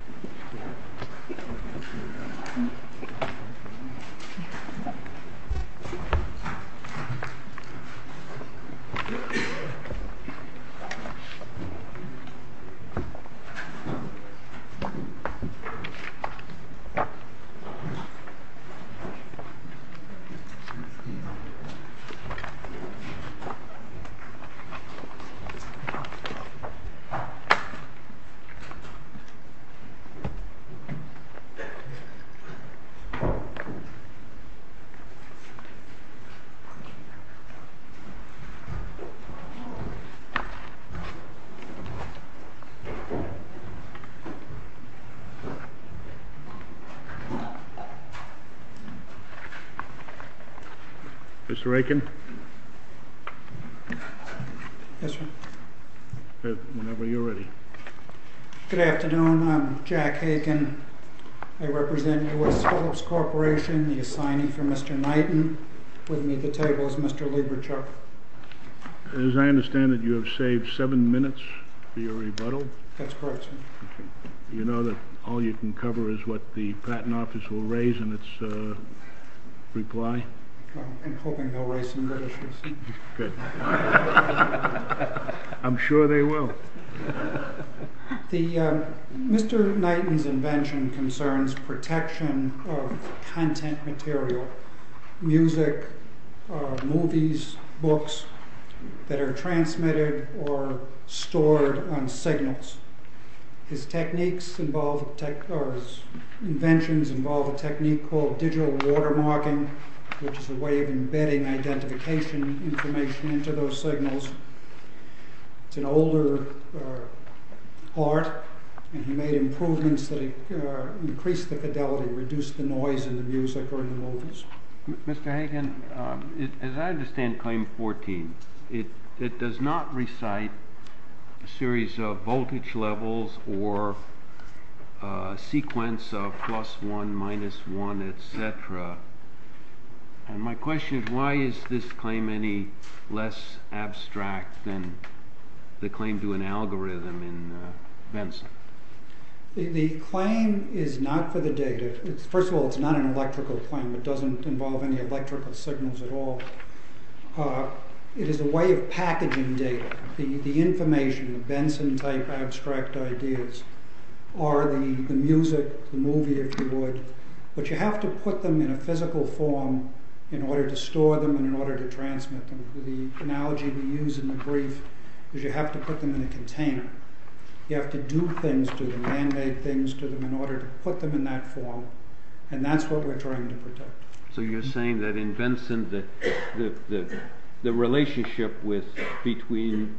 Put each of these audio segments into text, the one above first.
Go to the link in the description and subscribe to my channel! Thank you for watching! Jack Hagen, I represent U.S. Phillips Corporation, the assignee for Mr. Knighton. With me at the table is Mr. Lieberchuck. As I understand it, you have saved seven minutes for your rebuttal? That's correct, sir. You know that all you can cover is what the patent office will raise in its reply? I'm hoping they'll raise some good issues. Good. I'm sure they will. Mr. Knighton's invention concerns protection of content material, music, movies, books, that are transmitted or stored on signals. His inventions involve a technique called digital watermarking, which is a way of embedding identification information into those signals. It's an older art, and he made improvements that increase the fidelity, reduce the noise in the music or in the movies. Mr. Hagen, as I understand Claim 14, it does not recite a series of voltage levels or a sequence of plus one, minus one, etc. My question is, why is this claim any less abstract than the claim to an algorithm in Benson? The claim is not for the data. First of all, it's not an electrical claim. It doesn't involve any electrical signals at all. It is a way of packaging data. The information, the Benson-type abstract ideas, are the music, the movie, if you would. But you have to put them in a physical form in order to store them and in order to transmit them. The analogy we use in the brief is you have to put them in a container. You have to do things to them, mandate things to them, in order to put them in that form, and that's what we're trying to protect. So you're saying that in Benson, the relationship between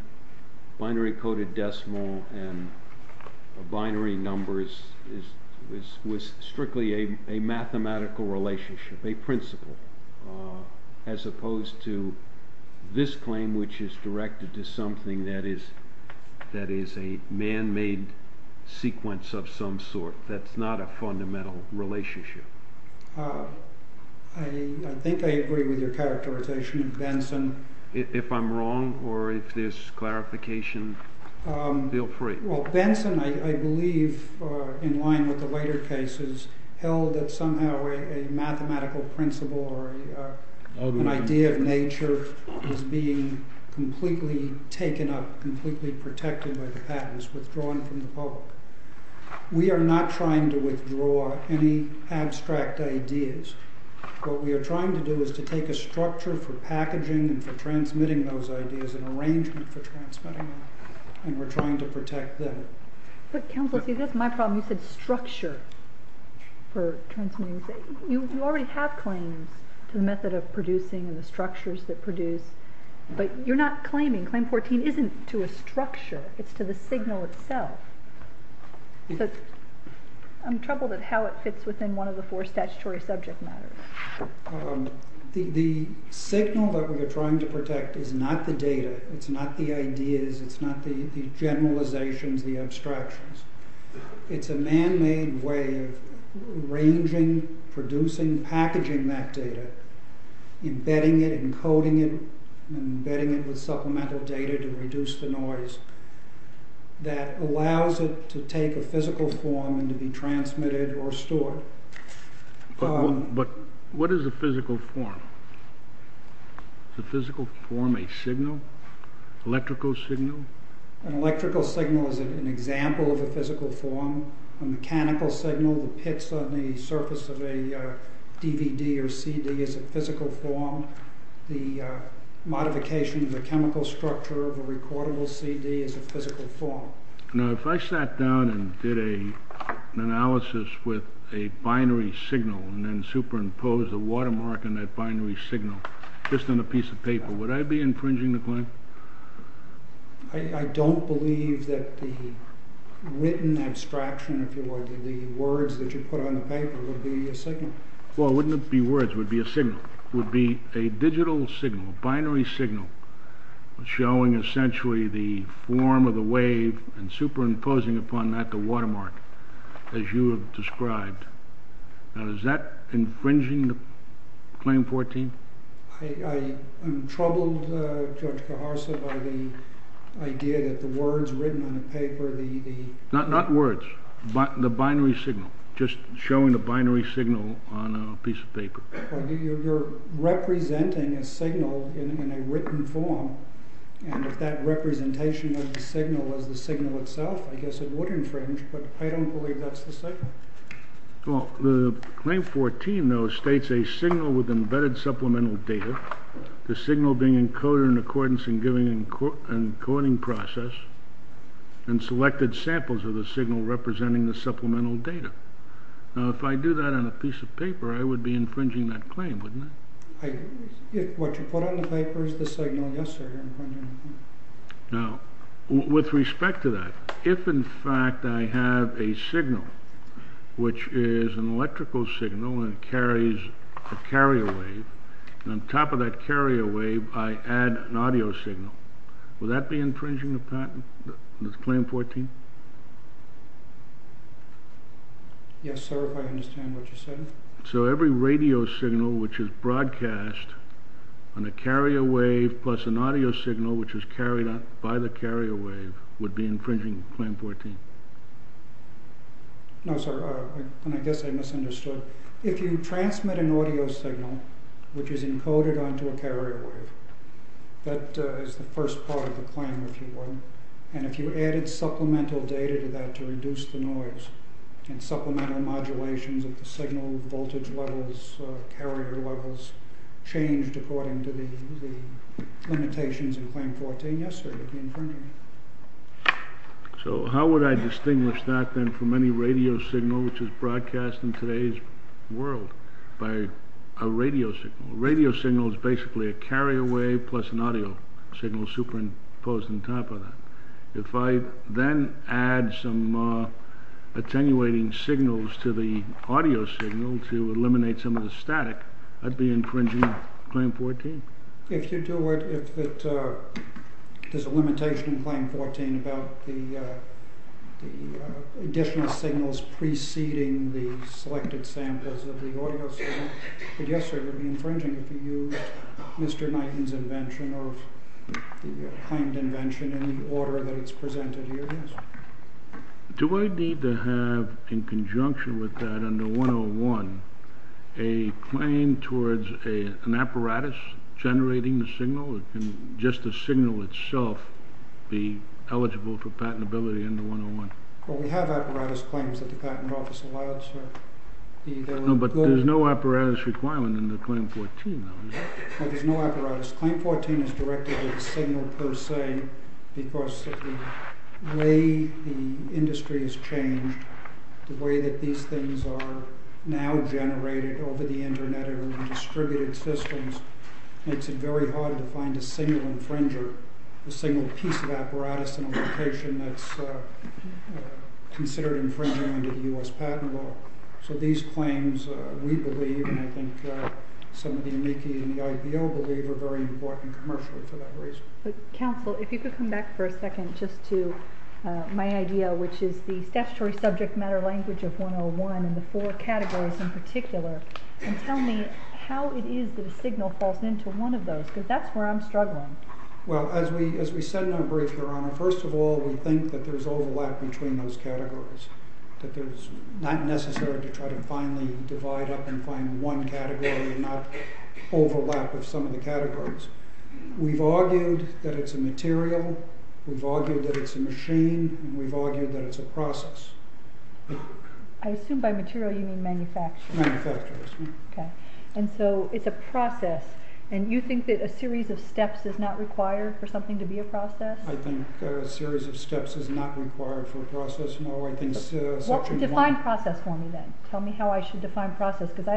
binary coded decimal and binary numbers was strictly a mathematical relationship, a principle, as opposed to this claim, which is directed to something that is a man-made sequence of some sort that's not a fundamental relationship. I think I agree with your characterization of Benson. If I'm wrong or if there's clarification, feel free. Well, Benson, I believe, in line with the later cases, held that somehow a mathematical principle or an idea of nature is being completely taken up, completely protected by the patents, withdrawn from the public. We are not trying to withdraw any abstract ideas. What we are trying to do is to take a structure for packaging and for transmitting those ideas, an arrangement for transmitting them, and we're trying to protect them. But counsel, see, that's my problem. You said structure for transmitting. You already have claims to the method of producing and the structures that produce, but you're not claiming. Claim 14 isn't to a structure. It's to the signal itself. I'm troubled at how it fits within one of the four statutory subject matters. The signal that we are trying to protect is not the data, it's not the ideas, it's not the generalizations, the abstractions. It's a man-made way of arranging, producing, packaging that data, embedding it, encoding it, embedding it with supplemental data to reduce the noise that allows it to take a physical form and to be transmitted or stored. But what is a physical form? Is a physical form a signal, electrical signal? An electrical signal is an example of a physical form. A mechanical signal, the pits on the surface of a DVD or CD is a physical form. The modification of the chemical structure of a recordable CD is a physical form. Now, if I sat down and did an analysis with a binary signal and then superimposed a watermark on that binary signal, just on a piece of paper, would I be infringing the claim? I don't believe that the written abstraction, if you like, the words that you put on the paper, would be a signal. It would be a digital signal, a binary signal, showing essentially the form of the wave and superimposing upon that the watermark, as you have described. Now, is that infringing the Claim 14? I'm troubled, Judge Carharsa, by the idea that the words written on the paper, the... Not words, the binary signal, just showing the binary signal on a piece of paper. You're representing a signal in a written form, and if that representation of the signal was the signal itself, I guess it would infringe, but I don't believe that's the signal. Well, the Claim 14, though, states a signal with embedded supplemental data, the signal being encoded in accordance and giving an encoding process, and selected samples of the signal representing the supplemental data. Now, if I do that on a piece of paper, I would be infringing that claim, wouldn't I? What you put on the paper is the signal, yes, sir. Now, with respect to that, if in fact I have a signal, which is an electrical signal and it carries a carrier wave, and on top of that carrier wave I add an audio signal, would that be infringing the patent, the Claim 14? Yes, sir, if I understand what you said. So every radio signal which is broadcast on a carrier wave plus an audio signal which is carried by the carrier wave would be infringing the Claim 14? No, sir, and I guess I misunderstood. If you transmit an audio signal which is encoded onto a carrier wave, that is the first part of the claim, if you will, and if you added supplemental data to that to reduce the noise and supplemental modulations of the signal voltage levels, carrier levels, changed according to the limitations in Claim 14, yes, sir, it would be infringing. So how would I distinguish that then from any radio signal which is broadcast in today's world by a radio signal? A radio signal is basically a carrier wave plus an audio signal superimposed on top of that. If I then add some attenuating signals to the audio signal to eliminate some of the static, that would be infringing Claim 14. If there is a limitation in Claim 14 about the additional signals preceding the selected samples of the audio signal, yes, sir, it would be infringing if you used Mr. Knighton's invention or the claimed invention in the order that it's presented here, yes. Do I need to have, in conjunction with that, under 101, a claim towards an apparatus generating the signal, or can just the signal itself be eligible for patentability under 101? Well, we have apparatus claims that the Patent Office allows, sir. No, but there's no apparatus requirement in the Claim 14, though, is there? Well, there's no apparatus. Claim 14 is directed to the signal per se because of the way the industry has changed, the way that these things are now generated over the Internet and distributed systems makes it very hard to find a single infringer, a single piece of apparatus in a location that's considered infringing under the U.S. Patent Law. So these claims, we believe, and I think some of the amici in the IPO believe, are very important commercially for that reason. Counsel, if you could come back for a second just to my idea, which is the statutory subject matter language of 101 and the four categories in particular, and tell me how it is that a signal falls into one of those, because that's where I'm struggling. Well, as we said in our brief, Your Honor, first of all, we think that there's overlap between those categories, that it's not necessary to try to finally divide up and find one category and not overlap with some of the categories. We've argued that it's a material. We've argued that it's a machine. We've argued that it's a process. I assume by material you mean manufacturing. Manufacturing, yes. Okay. And so it's a process, and you think that a series of steps is not required for something to be a process? I think a series of steps is not required for a process. Well, define process for me then. Tell me how I should define process, because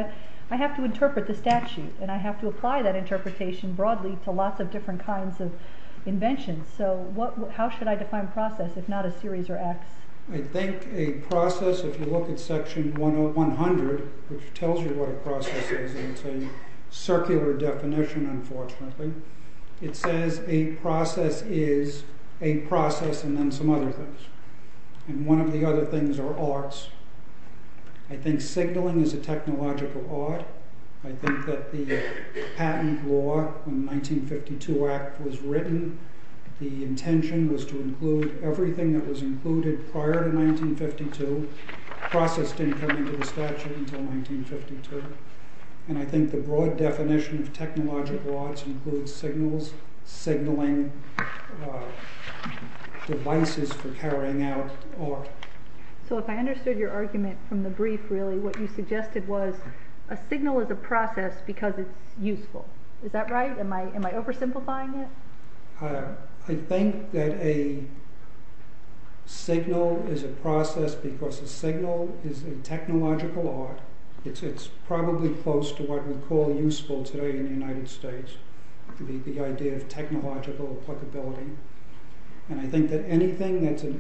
I have to interpret the statute, and I have to apply that interpretation broadly to lots of different kinds of inventions. So how should I define process if not a series or acts? I think a process, if you look at Section 100, which tells you what a process is, and it's a circular definition, unfortunately, it says a process is a process and then some other things. And one of the other things are arts. I think signaling is a technological art. I think that the patent law in the 1952 Act was written. The intention was to include everything that was included prior to 1952, processed income into the statute until 1952. And I think the broad definition of technological arts includes signals, signaling, devices for carrying out art. So if I understood your argument from the brief, really, what you suggested was a signal is a process because it's useful. Is that right? Am I oversimplifying it? I think that a signal is a process because a signal is a technological art. It's probably close to what we call useful today in the United States, the idea of technological applicability. And I think that anything that's a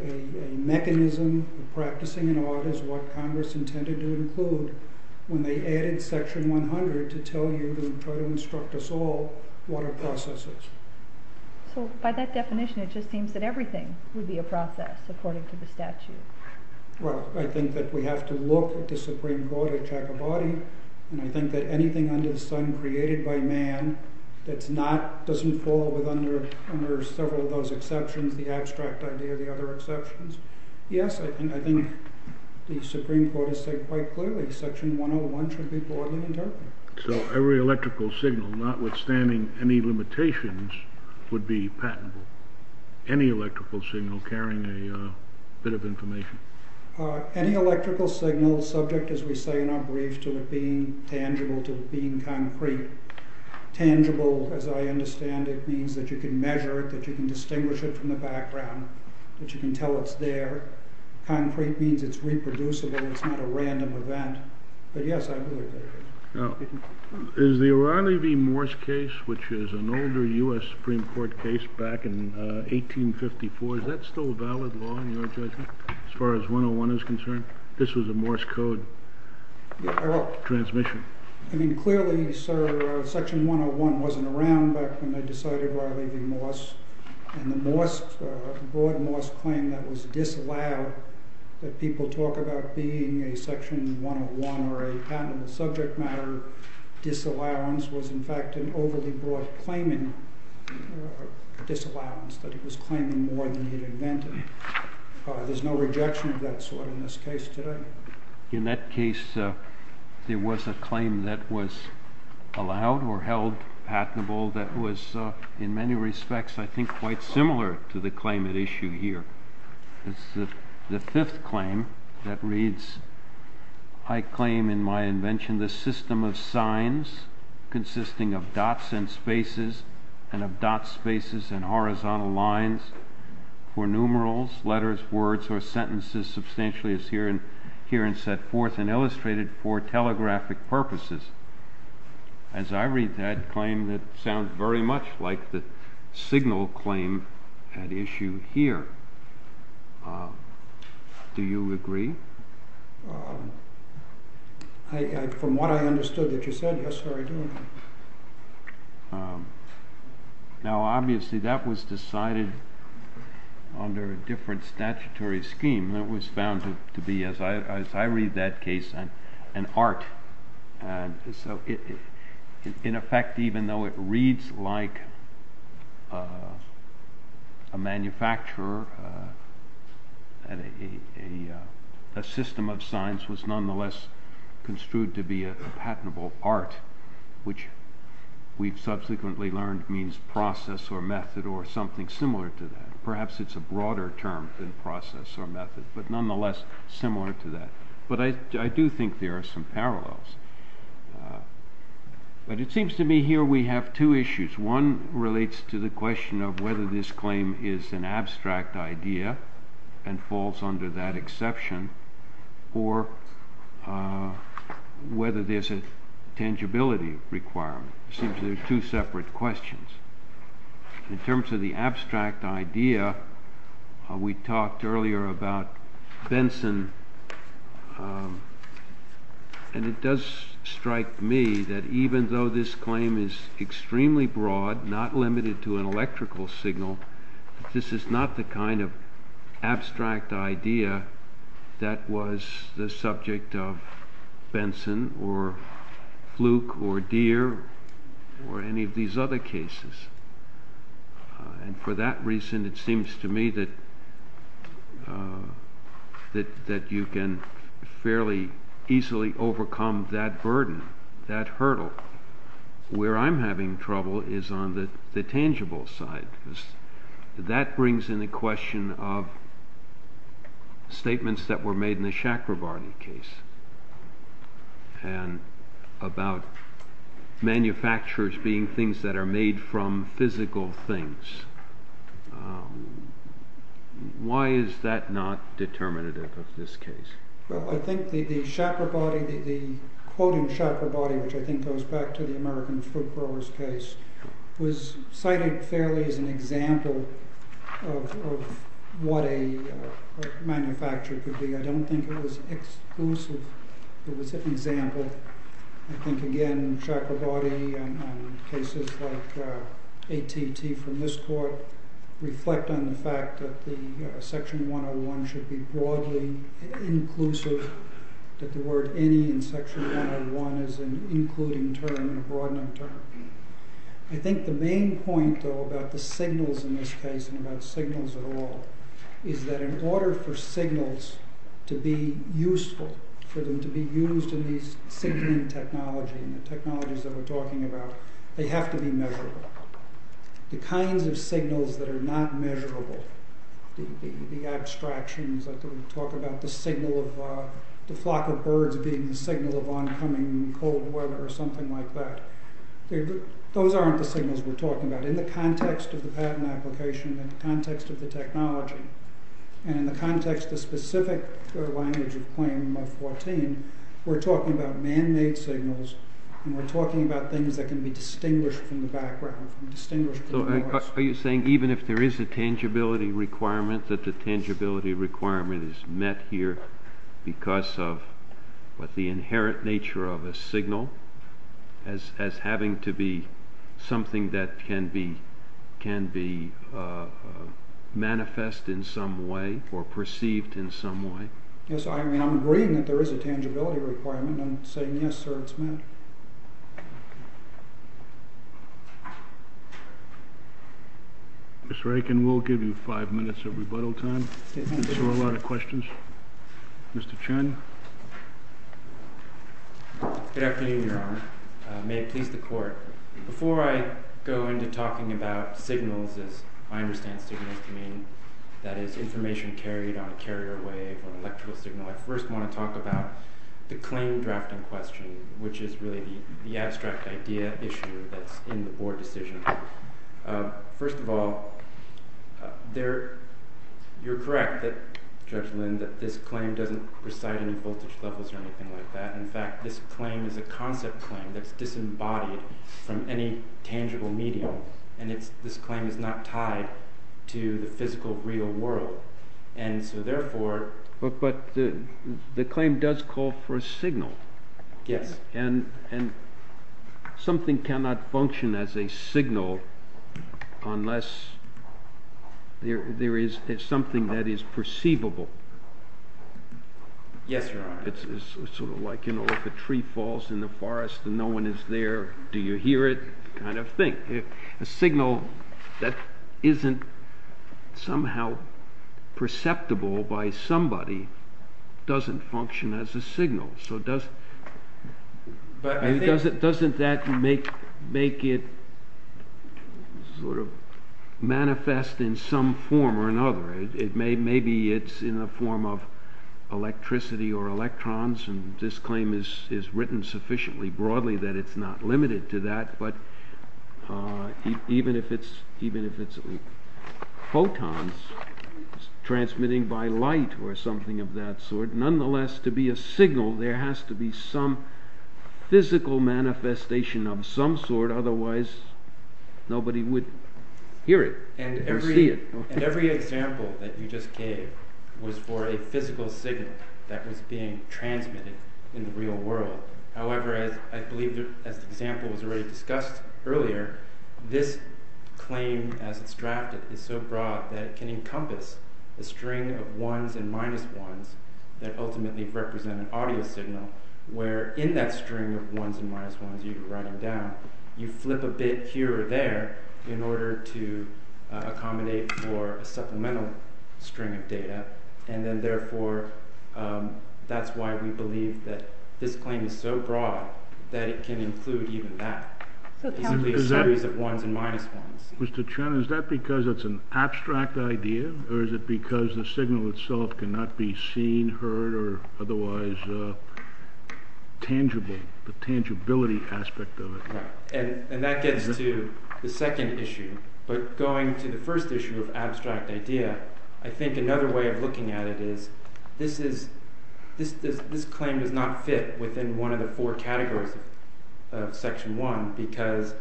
mechanism of practicing an art is what Congress intended to include when they added Section 100 to tell you to instruct us all what a process is. So by that definition, it just seems that everything would be a process according to the statute. Well, I think that we have to look at the Supreme Court at Jacobati, and I think that anything under the sun created by man doesn't fall under several of those exceptions, the abstract idea of the other exceptions. Yes, I think the Supreme Court has said quite clearly Section 101 should be broadly interpreted. So every electrical signal, notwithstanding any limitations, would be patentable. Any electrical signal carrying a bit of information? Any electrical signal subject, as we say in our brief, to it being tangible, to it being concrete. Tangible, as I understand it, means that you can measure it, that you can distinguish it from the background, that you can tell it's there. Concrete means it's reproducible, it's not a random event. But yes, I believe that it is. Is the Ronnie V. Morse case, which is an older U.S. Supreme Court case back in 1854, is that still a valid law in your judgment, as far as 101 is concerned? This was a Morse code transmission. I mean, clearly, sir, Section 101 wasn't around back when they decided we're leaving Morse, and the broad Morse claim that was disallowed, that people talk about being a Section 101 or a patentable subject matter disallowance, was in fact an overly broad claiming disallowance, that it was claiming more than it invented. There's no rejection of that sort in this case today. In that case, there was a claim that was allowed or held patentable that was, in many respects, I think quite similar to the claim at issue here. It's the fifth claim that reads, I claim in my invention the system of signs consisting of dots and spaces and of dot spaces and horizontal lines for numerals, letters, words, or sentences substantially as herein set forth and illustrated for telegraphic purposes. As I read that claim, it sounds very much like the signal claim at issue here. Do you agree? From what I understood that you said, yes, sir, I do. Now, obviously, that was decided under a different statutory scheme that was found to be, as I read that case, an art. In effect, even though it reads like a manufacturer, a system of signs was nonetheless construed to be a patentable art, which we've subsequently learned means process or method or something similar to that. Perhaps it's a broader term than process or method, but nonetheless similar to that. But I do think there are some parallels. But it seems to me here we have two issues. One relates to the question of whether this claim is an abstract idea and falls under that exception or whether there's a tangibility requirement. It seems there are two separate questions. In terms of the abstract idea, we talked earlier about Benson. And it does strike me that even though this claim is extremely broad, not limited to an electrical signal, this is not the kind of abstract idea that was the subject of Benson or Fluke or Deere or any of these other cases. And for that reason, it seems to me that you can fairly easily overcome that burden, that hurdle. Where I'm having trouble is on the tangible side. That brings in the question of statements that were made in the Chakrabarti case and about manufacturers being things that are made from physical things. Why is that not determinative of this case? Well, I think the Chakrabarti, the quote in Chakrabarti, which I think goes back to the American fruit growers case, was cited fairly as an example of what a manufacturer could be. I don't think it was exclusive. It was an example. I think, again, Chakrabarti and cases like AT&T from this court reflect on the fact that Section 101 should be broadly inclusive, that the word any in Section 101 is an including term and a broadening term. I think the main point, though, about the signals in this case and about signals at all is that in order for signals to be useful, for them to be used in these signaling technologies and the technologies that we're talking about, they have to be measurable. The kinds of signals that are not measurable, the abstractions that we talk about, the signal of the flock of birds being the signal of oncoming cold weather or something like that, those aren't the signals we're talking about. In the context of the patent application and the context of the technology and in the context of specific language of claim of 14, we're talking about man-made signals and we're talking about things that can be distinguished from the background. Are you saying even if there is a tangibility requirement that the tangibility requirement is met here because of the inherent nature of a signal as having to be something that can be manifest in some way or perceived in some way? Yes, I'm agreeing that there is a tangibility requirement. I'm saying yes, sir, it's met. Mr. Aiken, we'll give you five minutes of rebuttal time to answer a lot of questions. Mr. Chen. Good afternoon, Your Honor. May it please the Court. Before I go into talking about signals, as I understand signals to mean, that is information carried on a carrier wave or electrical signal, I first want to talk about the claim drafting question, which is really the abstract idea issue that's in the Board decision. First of all, you're correct, Judge Lind, that this claim doesn't preside in the voltage levels or anything like that. In fact, this claim is a concept claim that's disembodied from any tangible medium and this claim is not tied to the physical real world. And so therefore... But the claim does call for a signal. Yes. And something cannot function as a signal unless there is something that is perceivable. Yes, Your Honor. It's sort of like, you know, if a tree falls in the forest and no one is there, do you hear it? That kind of thing. A signal that isn't somehow perceptible by somebody doesn't function as a signal. So doesn't that make it sort of manifest in some form or another? Maybe it's in the form of electricity or electrons and this claim is written sufficiently broadly that it's not limited to that, but even if it's photons transmitting by light or something of that sort, nonetheless to be a signal there has to be some physical manifestation of some sort otherwise nobody would hear it or see it. And every example that you just gave was for a physical signal that was being transmitted in the real world. However, I believe, as the example was already discussed earlier, this claim as it's drafted is so broad that it can encompass a string of ones and minus ones that ultimately represent an audio signal where in that string of ones and minus ones you were writing down you flip a bit here or there in order to accommodate for a supplemental string of data and then therefore that's why we believe that this claim is so broad that it can include even that. It's simply a series of ones and minus ones. Mr. Chen, is that because it's an abstract idea or is it because the signal itself cannot be seen, heard, or otherwise tangible, the tangibility aspect of it? And that gets to the second issue. But going to the first issue of abstract idea, I think another way of looking at it is this claim does not fit within one of the four categories of Section 1 because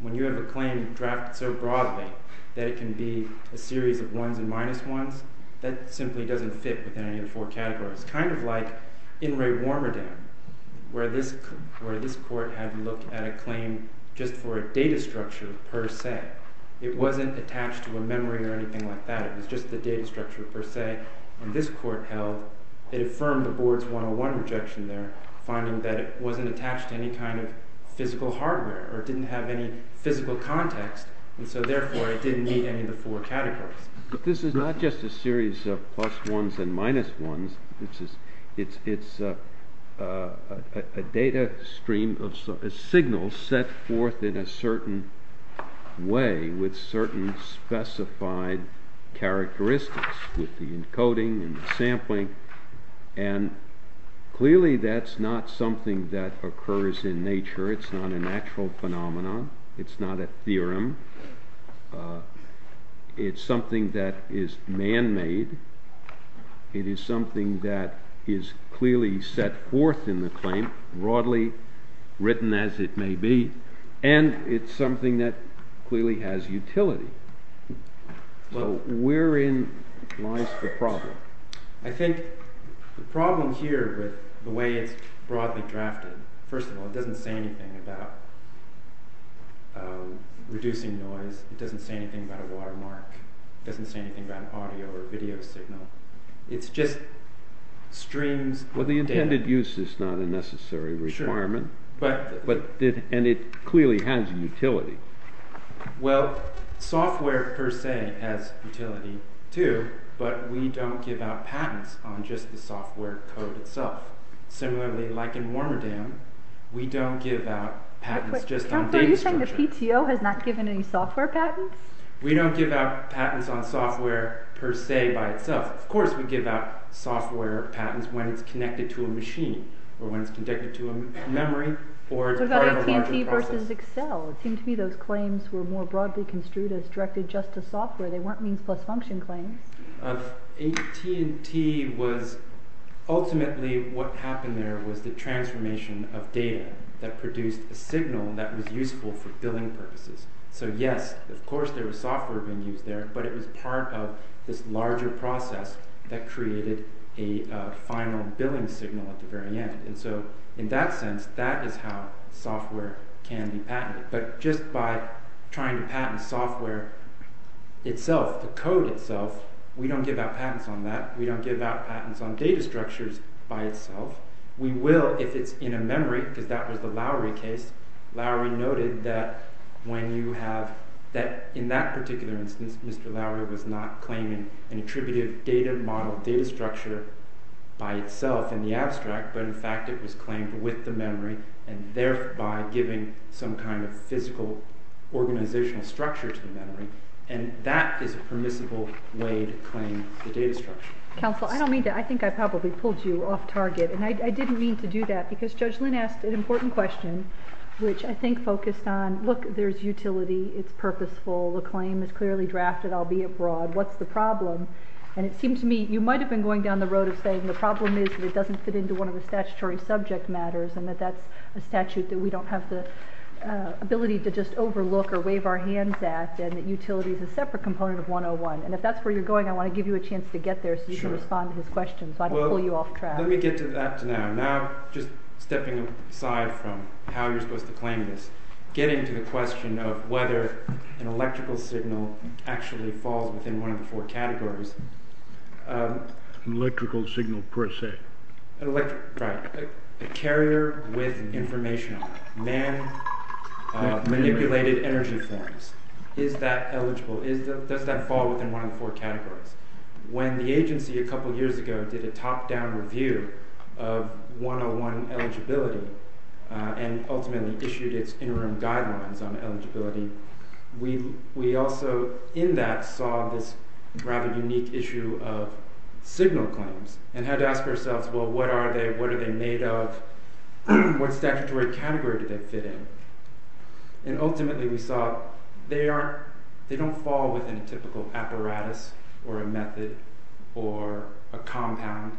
when you have a claim drafted so broadly that it can be a series of ones and minus ones, that simply doesn't fit within any of the four categories. It's kind of like in Ray Warmerdam where this court had to look at a claim just for a data structure per se. It wasn't attached to a memory or anything like that. It was just the data structure per se. And this court held it affirmed the Board's 101 objection there finding that it wasn't attached to any kind of physical hardware or didn't have any physical context. And so therefore it didn't meet any of the four categories. But this is not just a series of plus ones and minus ones. It's a data stream of signals set forth in a certain way with certain specified characteristics with the encoding and the sampling. And clearly that's not something that occurs in nature. It's not an actual phenomenon. It's not a theorem. It's something that is man-made. It is something that is clearly set forth in the claim, broadly written as it may be, and it's something that clearly has utility. So wherein lies the problem? I think the problem here with the way it's broadly drafted, first of all, it doesn't say anything about reducing noise. It doesn't say anything about a watermark. It doesn't say anything about an audio or video signal. It's just streams of data. Well, the intended use is not a necessary requirement. And it clearly has utility. Well, software per se has utility too, but we don't give out patents on just the software code itself. Similarly, like in Warmerdam, we don't give out patents just on data structure. Are you saying the PTO has not given any software patents? We don't give out patents on software per se by itself. Of course we give out software patents when it's connected to a machine or when it's connected to a memory or part of a larger process. What about AT&T versus Excel? It seemed to me those claims were more broadly construed as directed just to software. They weren't means-plus-function claims. AT&T was ultimately what happened there was the transformation of data that produced a signal that was useful for billing purposes. So yes, of course there was software being used there, but it was part of this larger process that created a final billing signal at the very end. And so in that sense, that is how software can be patented. But just by trying to patent software itself, the code itself, we don't give out patents on that. We don't give out patents on data structures by itself. We will if it's in a memory, because that was the Lowry case. Lowry noted that in that particular instance, Mr. Lowry was not claiming an attributive data model, data structure by itself in the abstract, but in fact it was claimed with the memory and thereby giving some kind of physical organizational structure to the memory. And that is a permissible way to claim the data structure. Counsel, I don't mean to, I think I probably pulled you off target. And I didn't mean to do that, because Judge Lynn asked an important question, which I think focused on, look, there's utility, it's purposeful, the claim is clearly drafted, I'll be abroad, what's the problem? And it seems to me, you might have been going down the road of saying the problem is that it doesn't fit into one of the statutory subject matters and that that's a statute that we don't have the ability to just overlook or wave our hands at and that utility is a separate component of 101. And if that's where you're going, I want to give you a chance to get there so you can respond to his question, so I don't pull you off track. Let me get to that now. Now, just stepping aside from how you're supposed to claim this, getting to the question of whether an electrical signal actually falls within one of the four categories. An electrical signal, per se. Right. A carrier with information, man-manipulated energy forms. Is that eligible? Does that fall within one of the four categories? When the agency a couple years ago did a top-down review of 101 eligibility and ultimately issued its interim guidelines on eligibility, we also in that saw this rather unique issue of signal claims and had to ask ourselves, well, what are they? What are they made of? What statutory category do they fit in? And ultimately we saw they don't fall within a typical apparatus or a method or a compound.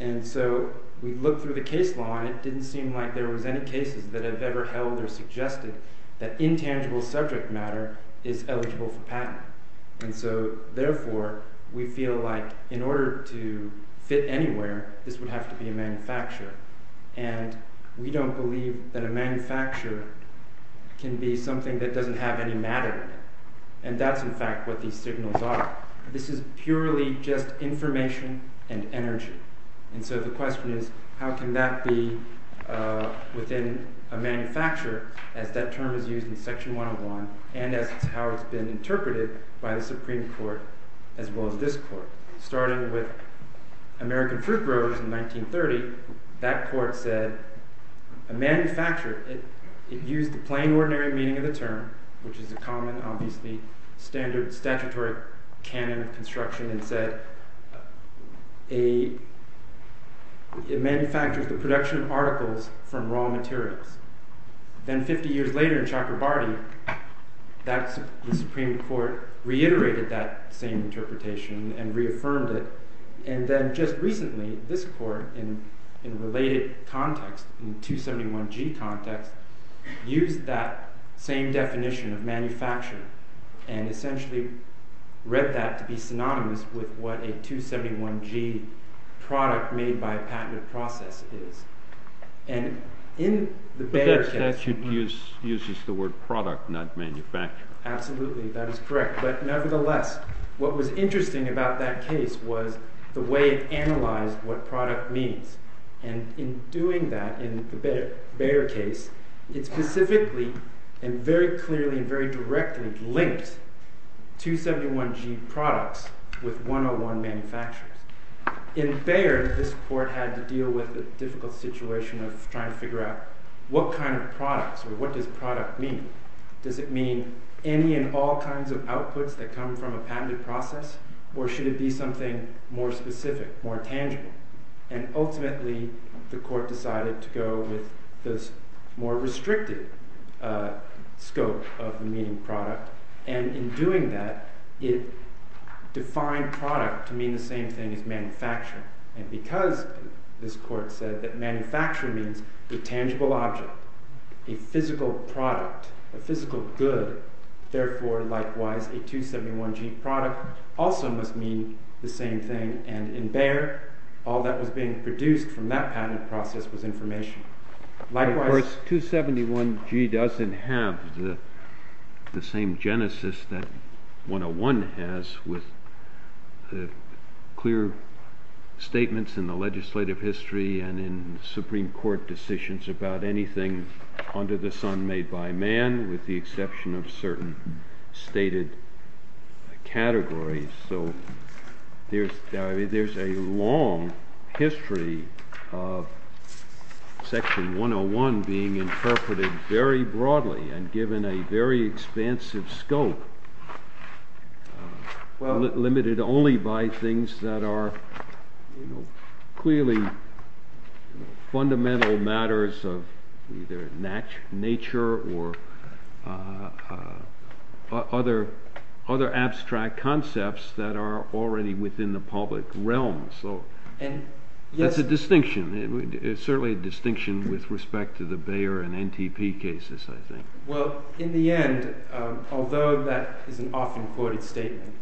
And so we looked through the case law and it didn't seem like there was any cases that have ever held or suggested that intangible subject matter is eligible for patent. And so, therefore, we feel like in order to fit anywhere, this would have to be a manufacturer. And we don't believe that a manufacturer can be something that doesn't have any matter in it. And that's, in fact, what these signals are. This is purely just information and energy. And so the question is how can that be within a manufacturer as that term is used in Section 101 and as to how it's been interpreted by the Supreme Court as well as this Court. Starting with American Fruit Growers in 1930, that court said a manufacturer, it used the plain ordinary meaning of the term, which is a common, obviously, statutory canon of construction, and said it manufactures the production of articles from raw materials. Then 50 years later in Chakrabarti, the Supreme Court reiterated that same interpretation and reaffirmed it. And then just recently, this Court in related context, in 271G context, used that same definition of manufacture and essentially read that to be synonymous with what a 271G product made by a patented process is. And in the Bayer case... But that uses the word product, not manufacture. Absolutely, that is correct. But nevertheless, what was interesting about that case was the way it analyzed what product means. And in doing that, in the Bayer case, it specifically and very clearly and very directly linked 271G products with 101 manufacturers. In Bayer, this Court had to deal with a difficult situation of trying to figure out what kind of products, or what does product mean? Does it mean any and all kinds of outputs that come from a patented process? Or should it be something more specific, more tangible? And ultimately, the Court decided to go with this more restricted scope of the meaning of product. And in doing that, it defined product to mean the same thing as manufacturing. And because this Court said that manufacturing means the tangible object, a physical product, a physical good, therefore, likewise, a 271G product also must mean the same thing. And in Bayer, all that was being produced from that patent process was information. Of course, 271G doesn't have the same genesis that 101 has with clear statements in the legislative history and in Supreme Court decisions about anything under the sun made by man, with the exception of certain stated categories. So there's a long history of Section 101 being interpreted very broadly and given a very expansive scope, limited only by things that are clearly fundamental matters of either nature or other abstract concepts that are already within the public realm. So that's a distinction. It's certainly a distinction with respect to the Bayer and NTP cases, I think. Well, in the end, although that is an often quoted statement,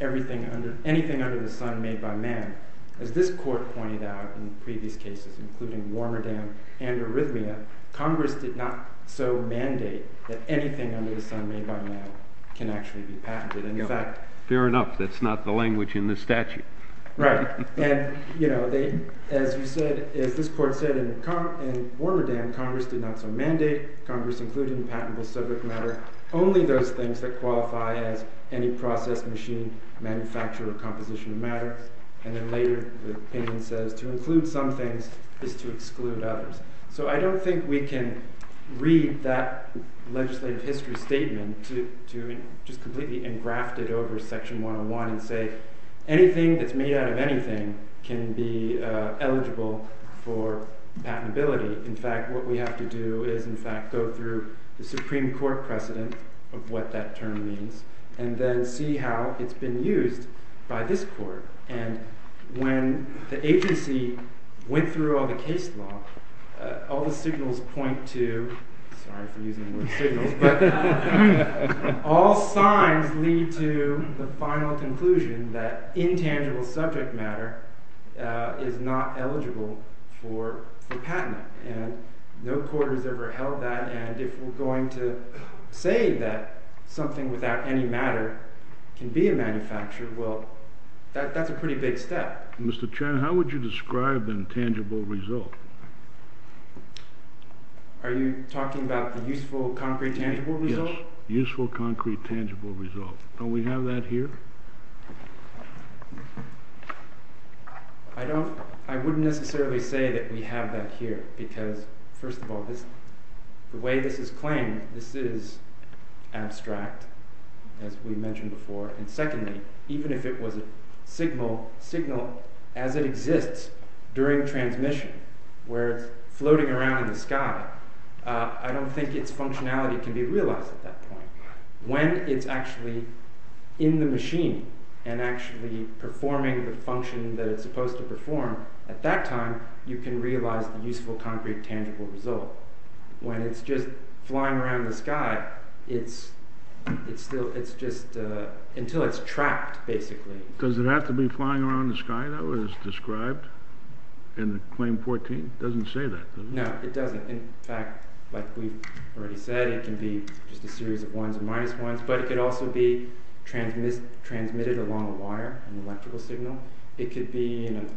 anything under the sun made by man, as this Court pointed out in previous cases, including Warmerdam and Arrhythmia, Congress did not so mandate that anything under the sun made by man can actually be patented. And in fact, fair enough, that's not the language in this statute. Right. And as you said, as this Court said in Warmerdam, Congress did not so mandate Congress including patentable subject matter only those things that qualify as any process, machine, manufacturer, composition of matter. And then later the opinion says to include some things is to exclude others. So I don't think we can read that legislative history statement to just completely engraft it over Section 101 and say anything that's made out of anything can be eligible for patentability. In fact, what we have to do is, in fact, go through the Supreme Court precedent of what that term means and then see how it's been used by this Court. And when the agency went through all the case law, all the signals point to, sorry for using the word signals, but all signs lead to the final conclusion that intangible subject matter is not eligible for patent. And no court has ever held that, and if we're going to say that something without any matter can be a manufacturer, well, that's a pretty big step. Mr. Chairman, how would you describe the intangible result? Are you talking about the useful concrete tangible result? Yes, useful concrete tangible result. Don't we have that here? I wouldn't necessarily say that we have that here because, first of all, the way this is claimed, this is abstract, as we mentioned before, and secondly, even if it was a signal, signal as it exists during transmission, where it's floating around in the sky, I don't think its functionality can be realized at that point. When it's actually in the machine and actually performing the function that it's supposed to perform, at that time, you can realize the useful concrete tangible result. When it's just flying around in the sky, it's just until it's trapped, basically. Does it have to be flying around in the sky? That was described in the Claim 14? It doesn't say that, does it? No, it doesn't. In fact, like we've already said, it can be just a series of ones and minus ones, but it could also be transmitted along a wire, an electrical signal. It could be in an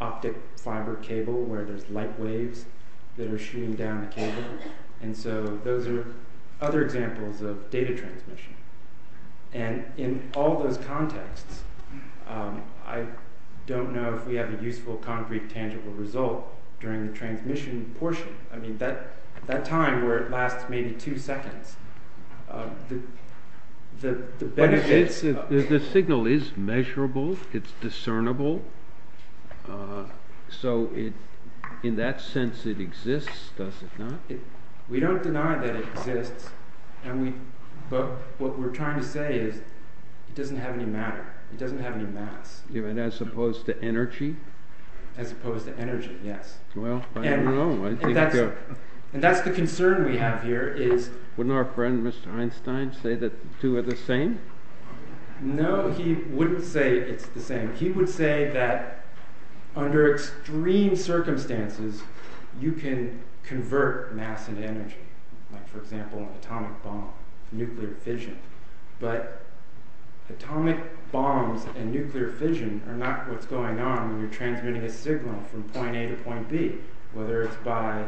optic fiber cable where there's light waves that are shooting down the cable. And so those are other examples of data transmission. And in all those contexts, I don't know if we have a useful concrete tangible result during the transmission portion. I mean, that time where it lasts maybe two seconds, the signal is measurable, it's discernible. So in that sense, it exists, does it not? We don't deny that it exists, but what we're trying to say is it doesn't have any matter. It doesn't have any mass. As opposed to energy? As opposed to energy, yes. Well, I don't know. And that's the concern we have here. Wouldn't our friend Mr. Einstein say that the two are the same? No, he wouldn't say it's the same. He would say that under extreme circumstances, you can convert mass into energy. Like, for example, an atomic bomb, nuclear fission. But atomic bombs and nuclear fission are not what's going on when you're transmitting a signal from point A to point B, whether it's by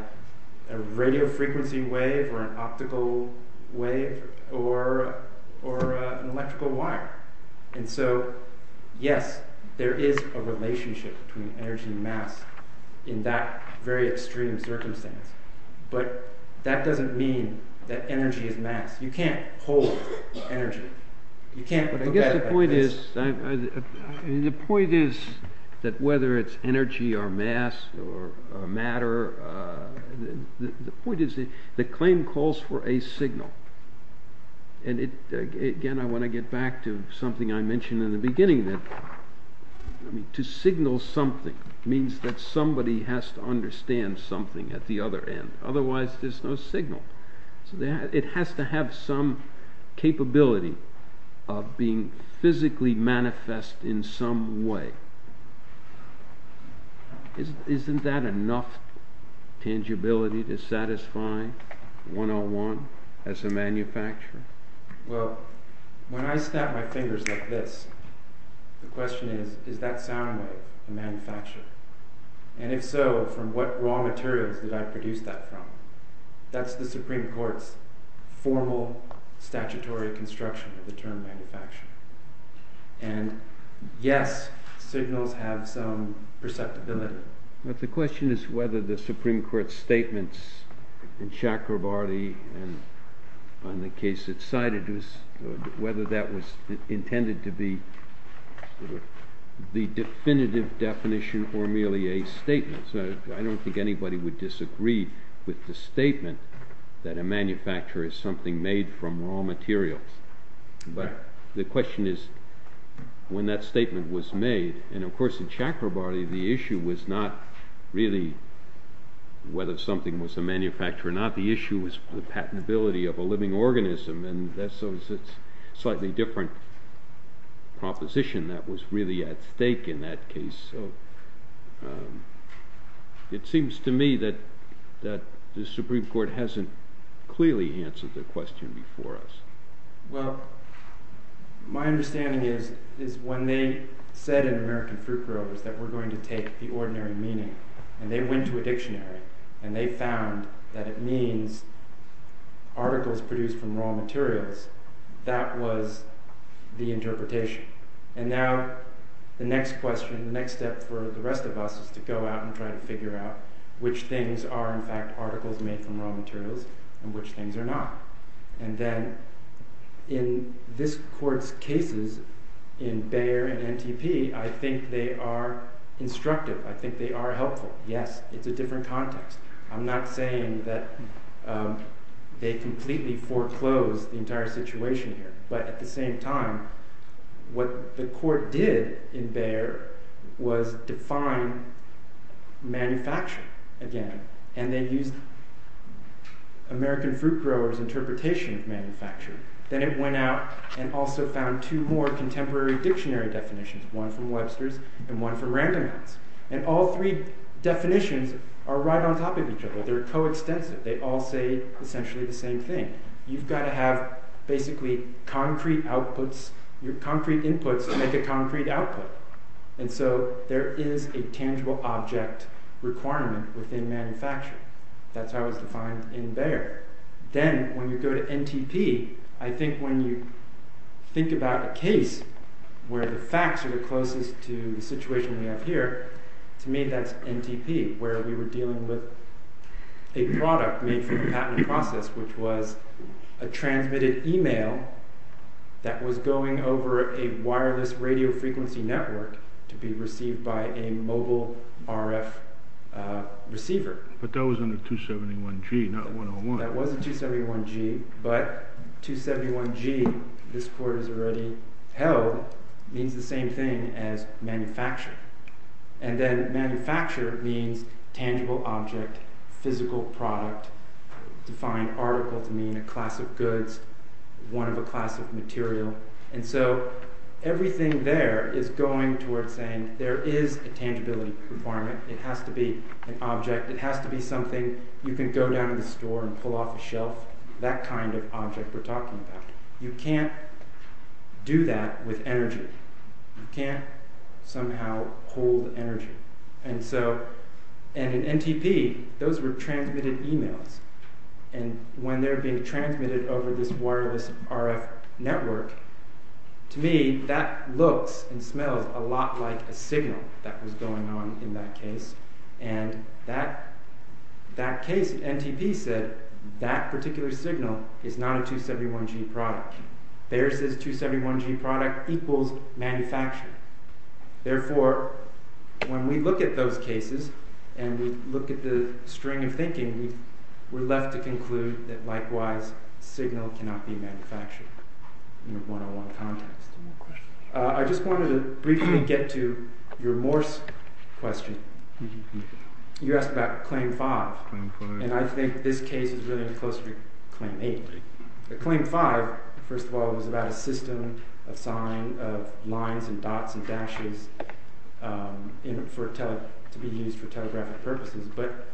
a radio frequency wave or an optical wave or an electrical wire. And so, yes, there is a relationship between energy and mass in that very extreme circumstance. But that doesn't mean that energy is mass. You can't hold energy. I guess the point is that whether it's energy or mass or matter, the point is the claim calls for a signal. And again, I want to get back to something I mentioned in the beginning. To signal something means that somebody has to understand something at the other end. Otherwise, there's no signal. It has to have some capability of being physically manifest in some way. Isn't that enough tangibility to satisfy 101 as a manufacturer? Well, when I snap my fingers like this, the question is, does that sound like a manufacturer? And if so, from what raw materials did I produce that from? That's the Supreme Court's formal statutory construction of the term manufacturer. And, yes, signals have some perceptibility. But the question is whether the Supreme Court's statements in Chakrabarty and on the case at Saididus, whether that was intended to be the definitive definition or merely a statement. I don't think anybody would disagree with the statement that a manufacturer is something made from raw materials. But the question is when that statement was made. And, of course, in Chakrabarty the issue was not really whether something was a manufacturer or not. The issue was the patentability of a living organism. And that's a slightly different proposition that was really at stake in that case. It seems to me that the Supreme Court hasn't clearly answered the question before us. Well, my understanding is when they said in American Fruit Growers that we're going to take the ordinary meaning, and they went to a dictionary and they found that it means articles produced from raw materials, that was the interpretation. And now the next question, the next step for the rest of us is to go out and try to figure out which things are in fact articles made from raw materials and which things are not. And then in this Court's cases in Bayer and NTP, I think they are instructive. I think they are helpful. Yes, it's a different context. I'm not saying that they completely foreclosed the entire situation here. But at the same time, what the Court did in Bayer was define manufacturing again. And they used American Fruit Growers' interpretation of manufacturing. Then it went out and also found two more contemporary dictionary definitions, one from Webster's and one from Randomance. And all three definitions are right on top of each other. They're co-extensive. They all say essentially the same thing. You've got to have basically concrete inputs to make a concrete output. And so there is a tangible object requirement within manufacturing. That's how it's defined in Bayer. Then when you go to NTP, I think when you think about a case where the facts are the closest to the situation we have here, to me that's NTP, where we were dealing with a product made for the patent process, which was a transmitted email that was going over a wireless radio frequency network to be received by a mobile RF receiver. But that was under 271G, not 101. That was 271G, but 271G, this Court has already held, means the same thing as manufacturing. And then manufacture means tangible object, physical product, defined article to mean a class of goods, one of a class of material. And so everything there is going towards saying there is a tangibility requirement. It has to be an object. It has to be something you can go down to the store and pull off a shelf, that kind of object we're talking about. You can't do that with energy. You can't somehow hold energy. And in NTP, those were transmitted emails. And when they're being transmitted over this wireless RF network, to me that looks and smells a lot like a signal that was going on in that case. And that case, NTP said, that particular signal is not a 271G product. Theirs is a 271G product equals manufactured. Therefore, when we look at those cases, and we look at the string of thinking, we're left to conclude that likewise, signal cannot be manufactured in a 101 context. I just wanted to briefly get to your Morse question. You asked about Claim 5. And I think this case is really close to Claim 8. Claim 5, first of all, was about a system of signs, of lines and dots and dashes to be used for telegraphic purposes. But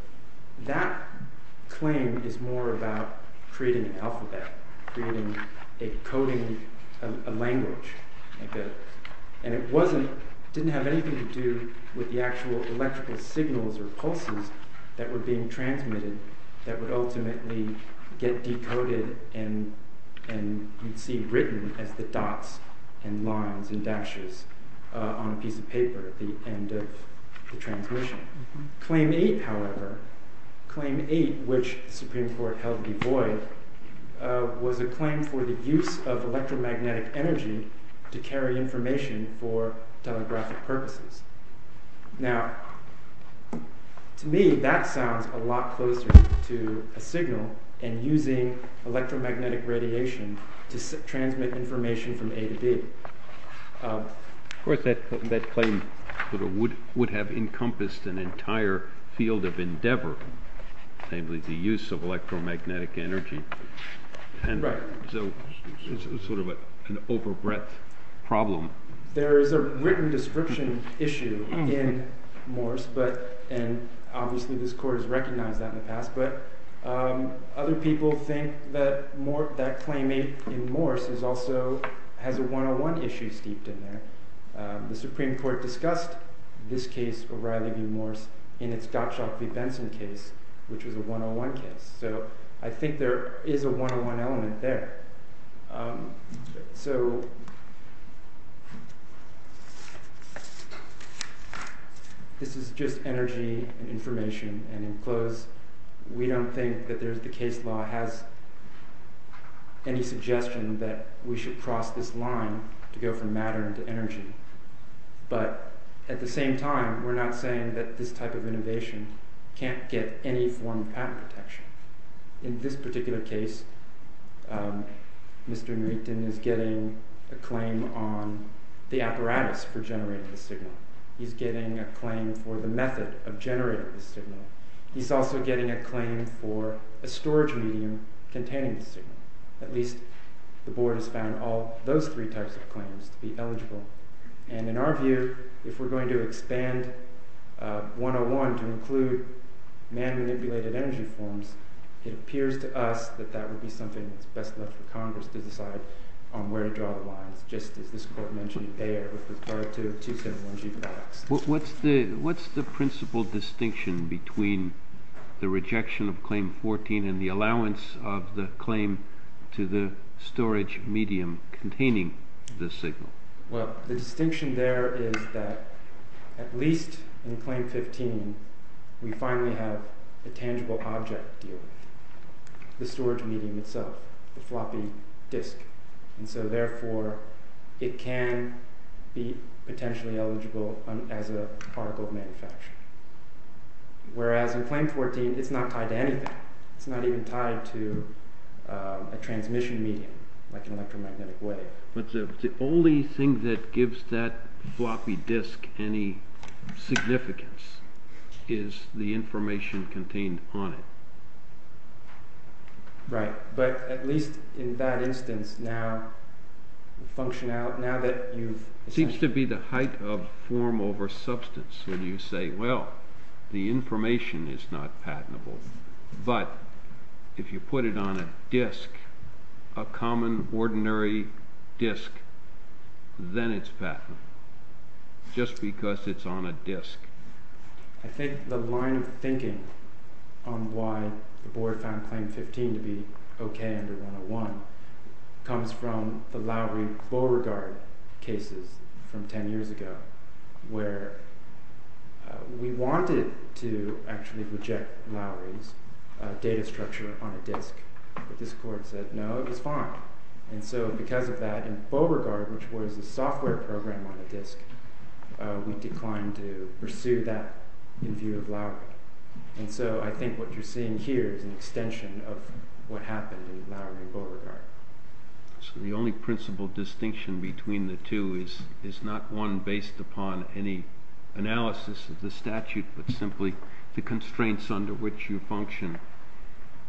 that claim is more about creating an alphabet, creating a coding language. And it didn't have anything to do with the actual electrical signals or pulses that were being transmitted that would ultimately get decoded and you'd see written as the dots and lines and dashes on a piece of paper at the end of the transmission. Claim 8, however, Claim 8, which the Supreme Court held devoid, was a claim for the use of electromagnetic energy to carry information for telegraphic purposes. Now, to me, that sounds a lot closer to a signal and using electromagnetic radiation to transmit information from A to B. Of course, that claim would have encompassed an entire field of endeavor, namely the use of electromagnetic energy. And so it's sort of an over-breadth problem. There is a written description issue in Morse, and obviously this Court has recognized that in the past, but other people think that claim 8 in Morse also has a 101 issue steeped in there. The Supreme Court discussed this case, O'Reilly v. Morse, in its Gottschalk v. Benson case, which was a 101 case. So I think there is a 101 element there. So... This is just energy and information, and in close, we don't think that the case law has any suggestion that we should cross this line to go from matter to energy. But at the same time, we're not saying that this type of innovation can't get any form of patent protection. In this particular case, Mr. Nreeton is getting a claim on the apparatus for generating the signal. He's getting a claim for the method of generating the signal. He's also getting a claim for a storage medium containing the signal. At least the Board has found all those three types of claims to be eligible. And in our view, if we're going to expand 101 to include man-manipulated energy forms, it appears to us that that would be something that's best left for Congress to decide on where to draw the lines, just as this Court mentioned there with regard to 271G. What's the principal distinction between the rejection of Claim 14 and the allowance of the claim to the storage medium containing the signal? Well, the distinction there is that at least in Claim 15, we finally have a tangible object deal, the storage medium itself, the floppy disk. And so therefore, it can be potentially eligible as an article of manufacturing. Whereas in Claim 14, it's not tied to anything. It's not even tied to a transmission medium, like an electromagnetic wave. But the only thing that gives that floppy disk any significance is the information contained on it. Right. But at least in that instance, now that you've... It seems to be the height of form over substance when you say, well, the information is not patentable, but if you put it on a disk, a common, ordinary disk, then it's patentable, just because it's on a disk. I think the line of thinking on why the Board found Claim 15 to be okay under 101 comes from the Lowry-Beauregard cases from 10 years ago, where we wanted to actually reject Lowry's data structure on a disk. But this Court said, no, it was fine. And so because of that, in Beauregard, which was a software program on a disk, we declined to pursue that in view of Lowry. And so I think what you're seeing here is an extension of what happened in Lowry and Beauregard. So the only principal distinction between the two is not one based upon any analysis of the statute, but simply the constraints under which you function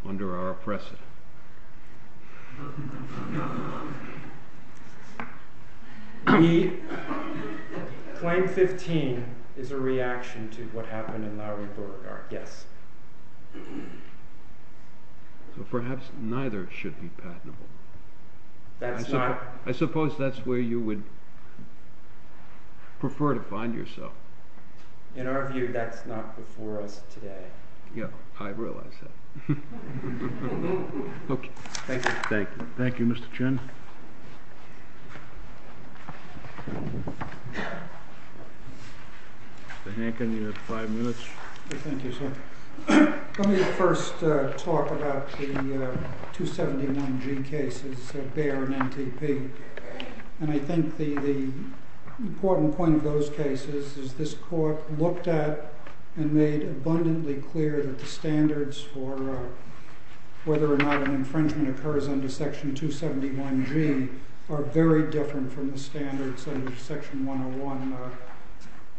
under our precedent. Claim 15 is a reaction to what happened in Lowry-Beauregard, yes. So perhaps neither should be patentable. I suppose that's where you would prefer to find yourself. In our view, that's not before us today. Yeah, I realize that. Thank you. Thank you, Mr. Chin. Mr. Hankin, you have five minutes. Thank you, sir. Let me first talk about the 279G cases of Bayer and NTP. And I think the important point of those cases is this court looked at and made abundantly clear that the standards for whether or not an infringement occurs under Section 271G are very different from the standards of Section 101.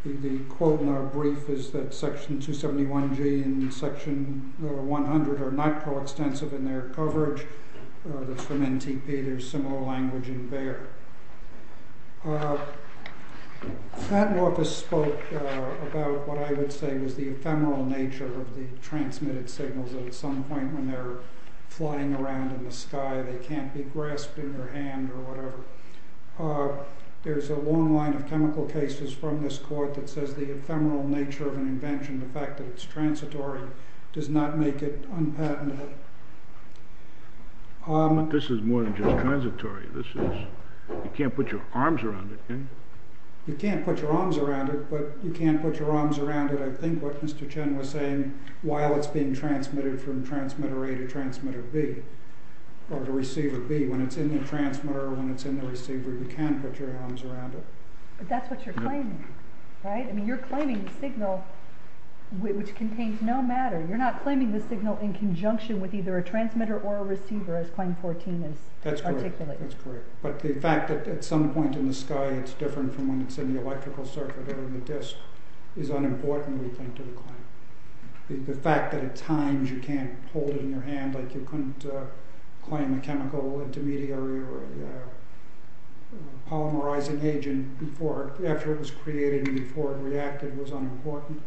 The quote in our brief is that Section 271G and Section 100 are not coextensive in their coverage. That's from NTP. There's similar language in Bayer. The patent office spoke about what I would say was the ephemeral nature of the transmitted signals that at some point when they're flying around in the sky, they can't be grasped in your hand or whatever. There's a long line of chemical cases from this court that says the ephemeral nature of an invention, the fact that it's transitory, does not make it unpatentable. But this is more than just transitory. You can't put your arms around it, can you? You can't put your arms around it, but you can't put your arms around it, I think, what Mr. Chen was saying, while it's being transmitted from transmitter A to receiver B. When it's in the transmitter or when it's in the receiver, you can put your arms around it. But that's what you're claiming, right? I mean, you're claiming a signal which contains no matter. You're not claiming the signal in conjunction with either a transmitter or a receiver, whereas Claim 14 is articulated. That's correct. But the fact that at some point in the sky it's different from when it's in the electrical circuit or in the disk is unimportant, we think, to the claim. The fact that at times you can't hold it in your hand, like you couldn't claim a chemical intermediary or a polymerizing agent after it was created and before it reacted was unimportant.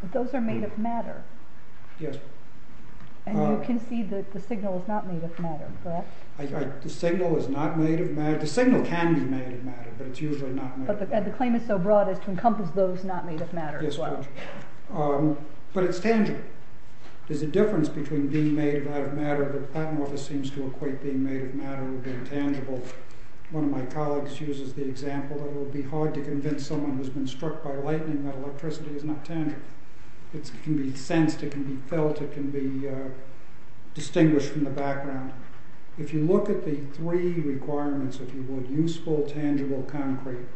But those are made of matter. Yes. And you concede that the signal is not made of matter, correct? The signal is not made of matter. The signal can be made of matter, but it's usually not made of matter. But the claim is so broad as to encompass those not made of matter as well. Yes, but it's tangible. There's a difference between being made out of matter that Plattenworth seems to equate being made of matter with being tangible. One of my colleagues uses the example that it would be hard to convince someone who's been struck by lightning that electricity is not tangible. It can be sensed, it can be felt, it can be distinguished from the background. If you look at the three requirements, if you would, useful, tangible, concrete.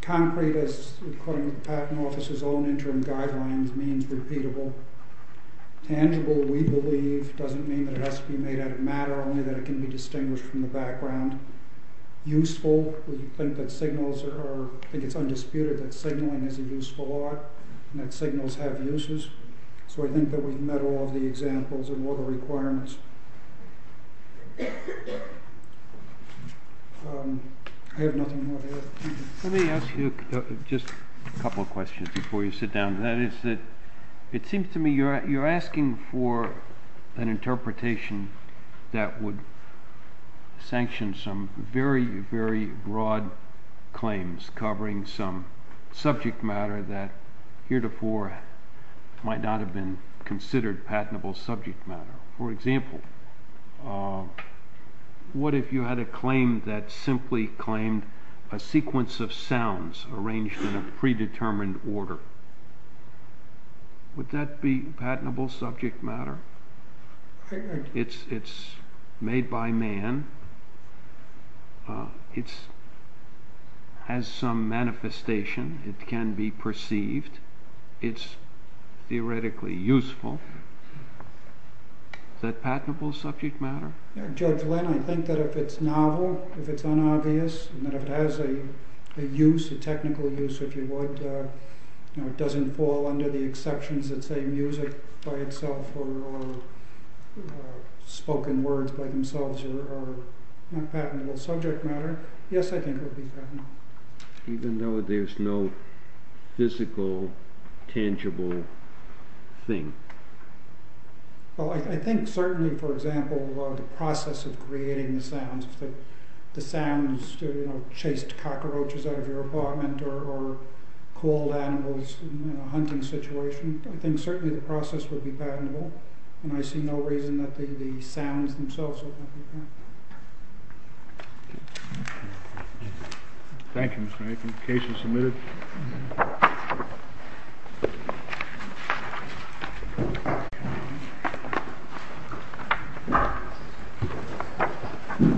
Concrete, according to the Patent Office's own interim guidelines, means repeatable. Tangible, we believe, doesn't mean that it has to be made out of matter, only that it can be distinguished from the background. Useful, we think that signals are... that signals have uses. So I think that we've met all of the examples and all the requirements. I have nothing more to add. Let me ask you just a couple of questions before you sit down. That is, it seems to me you're asking for an interpretation that would sanction some very, very broad claims covering some subject matter that heretofore might not have been considered patentable subject matter. For example, what if you had a claim that simply claimed a sequence of sounds arranged in a predetermined order? Would that be patentable subject matter? It's made by man. It has some manifestation. It can be perceived. It's theoretically useful. Is that patentable subject matter? Judge Lynn, I think that if it's novel, if it's unobvious, and if it has a use, a technical use, if you would, it doesn't fall under the exceptions that say music by itself or spoken words by themselves are not patentable subject matter. Yes, I think it would be patentable. Even though there's no physical, tangible thing? I think certainly, for example, the process of creating the sounds, the sounds to chase cockroaches out of your apartment or call animals in a hunting situation, I think certainly the process would be patentable. And I see no reason that the sounds themselves would not be patentable. Thank you, Mr. Aiken. The case is submitted.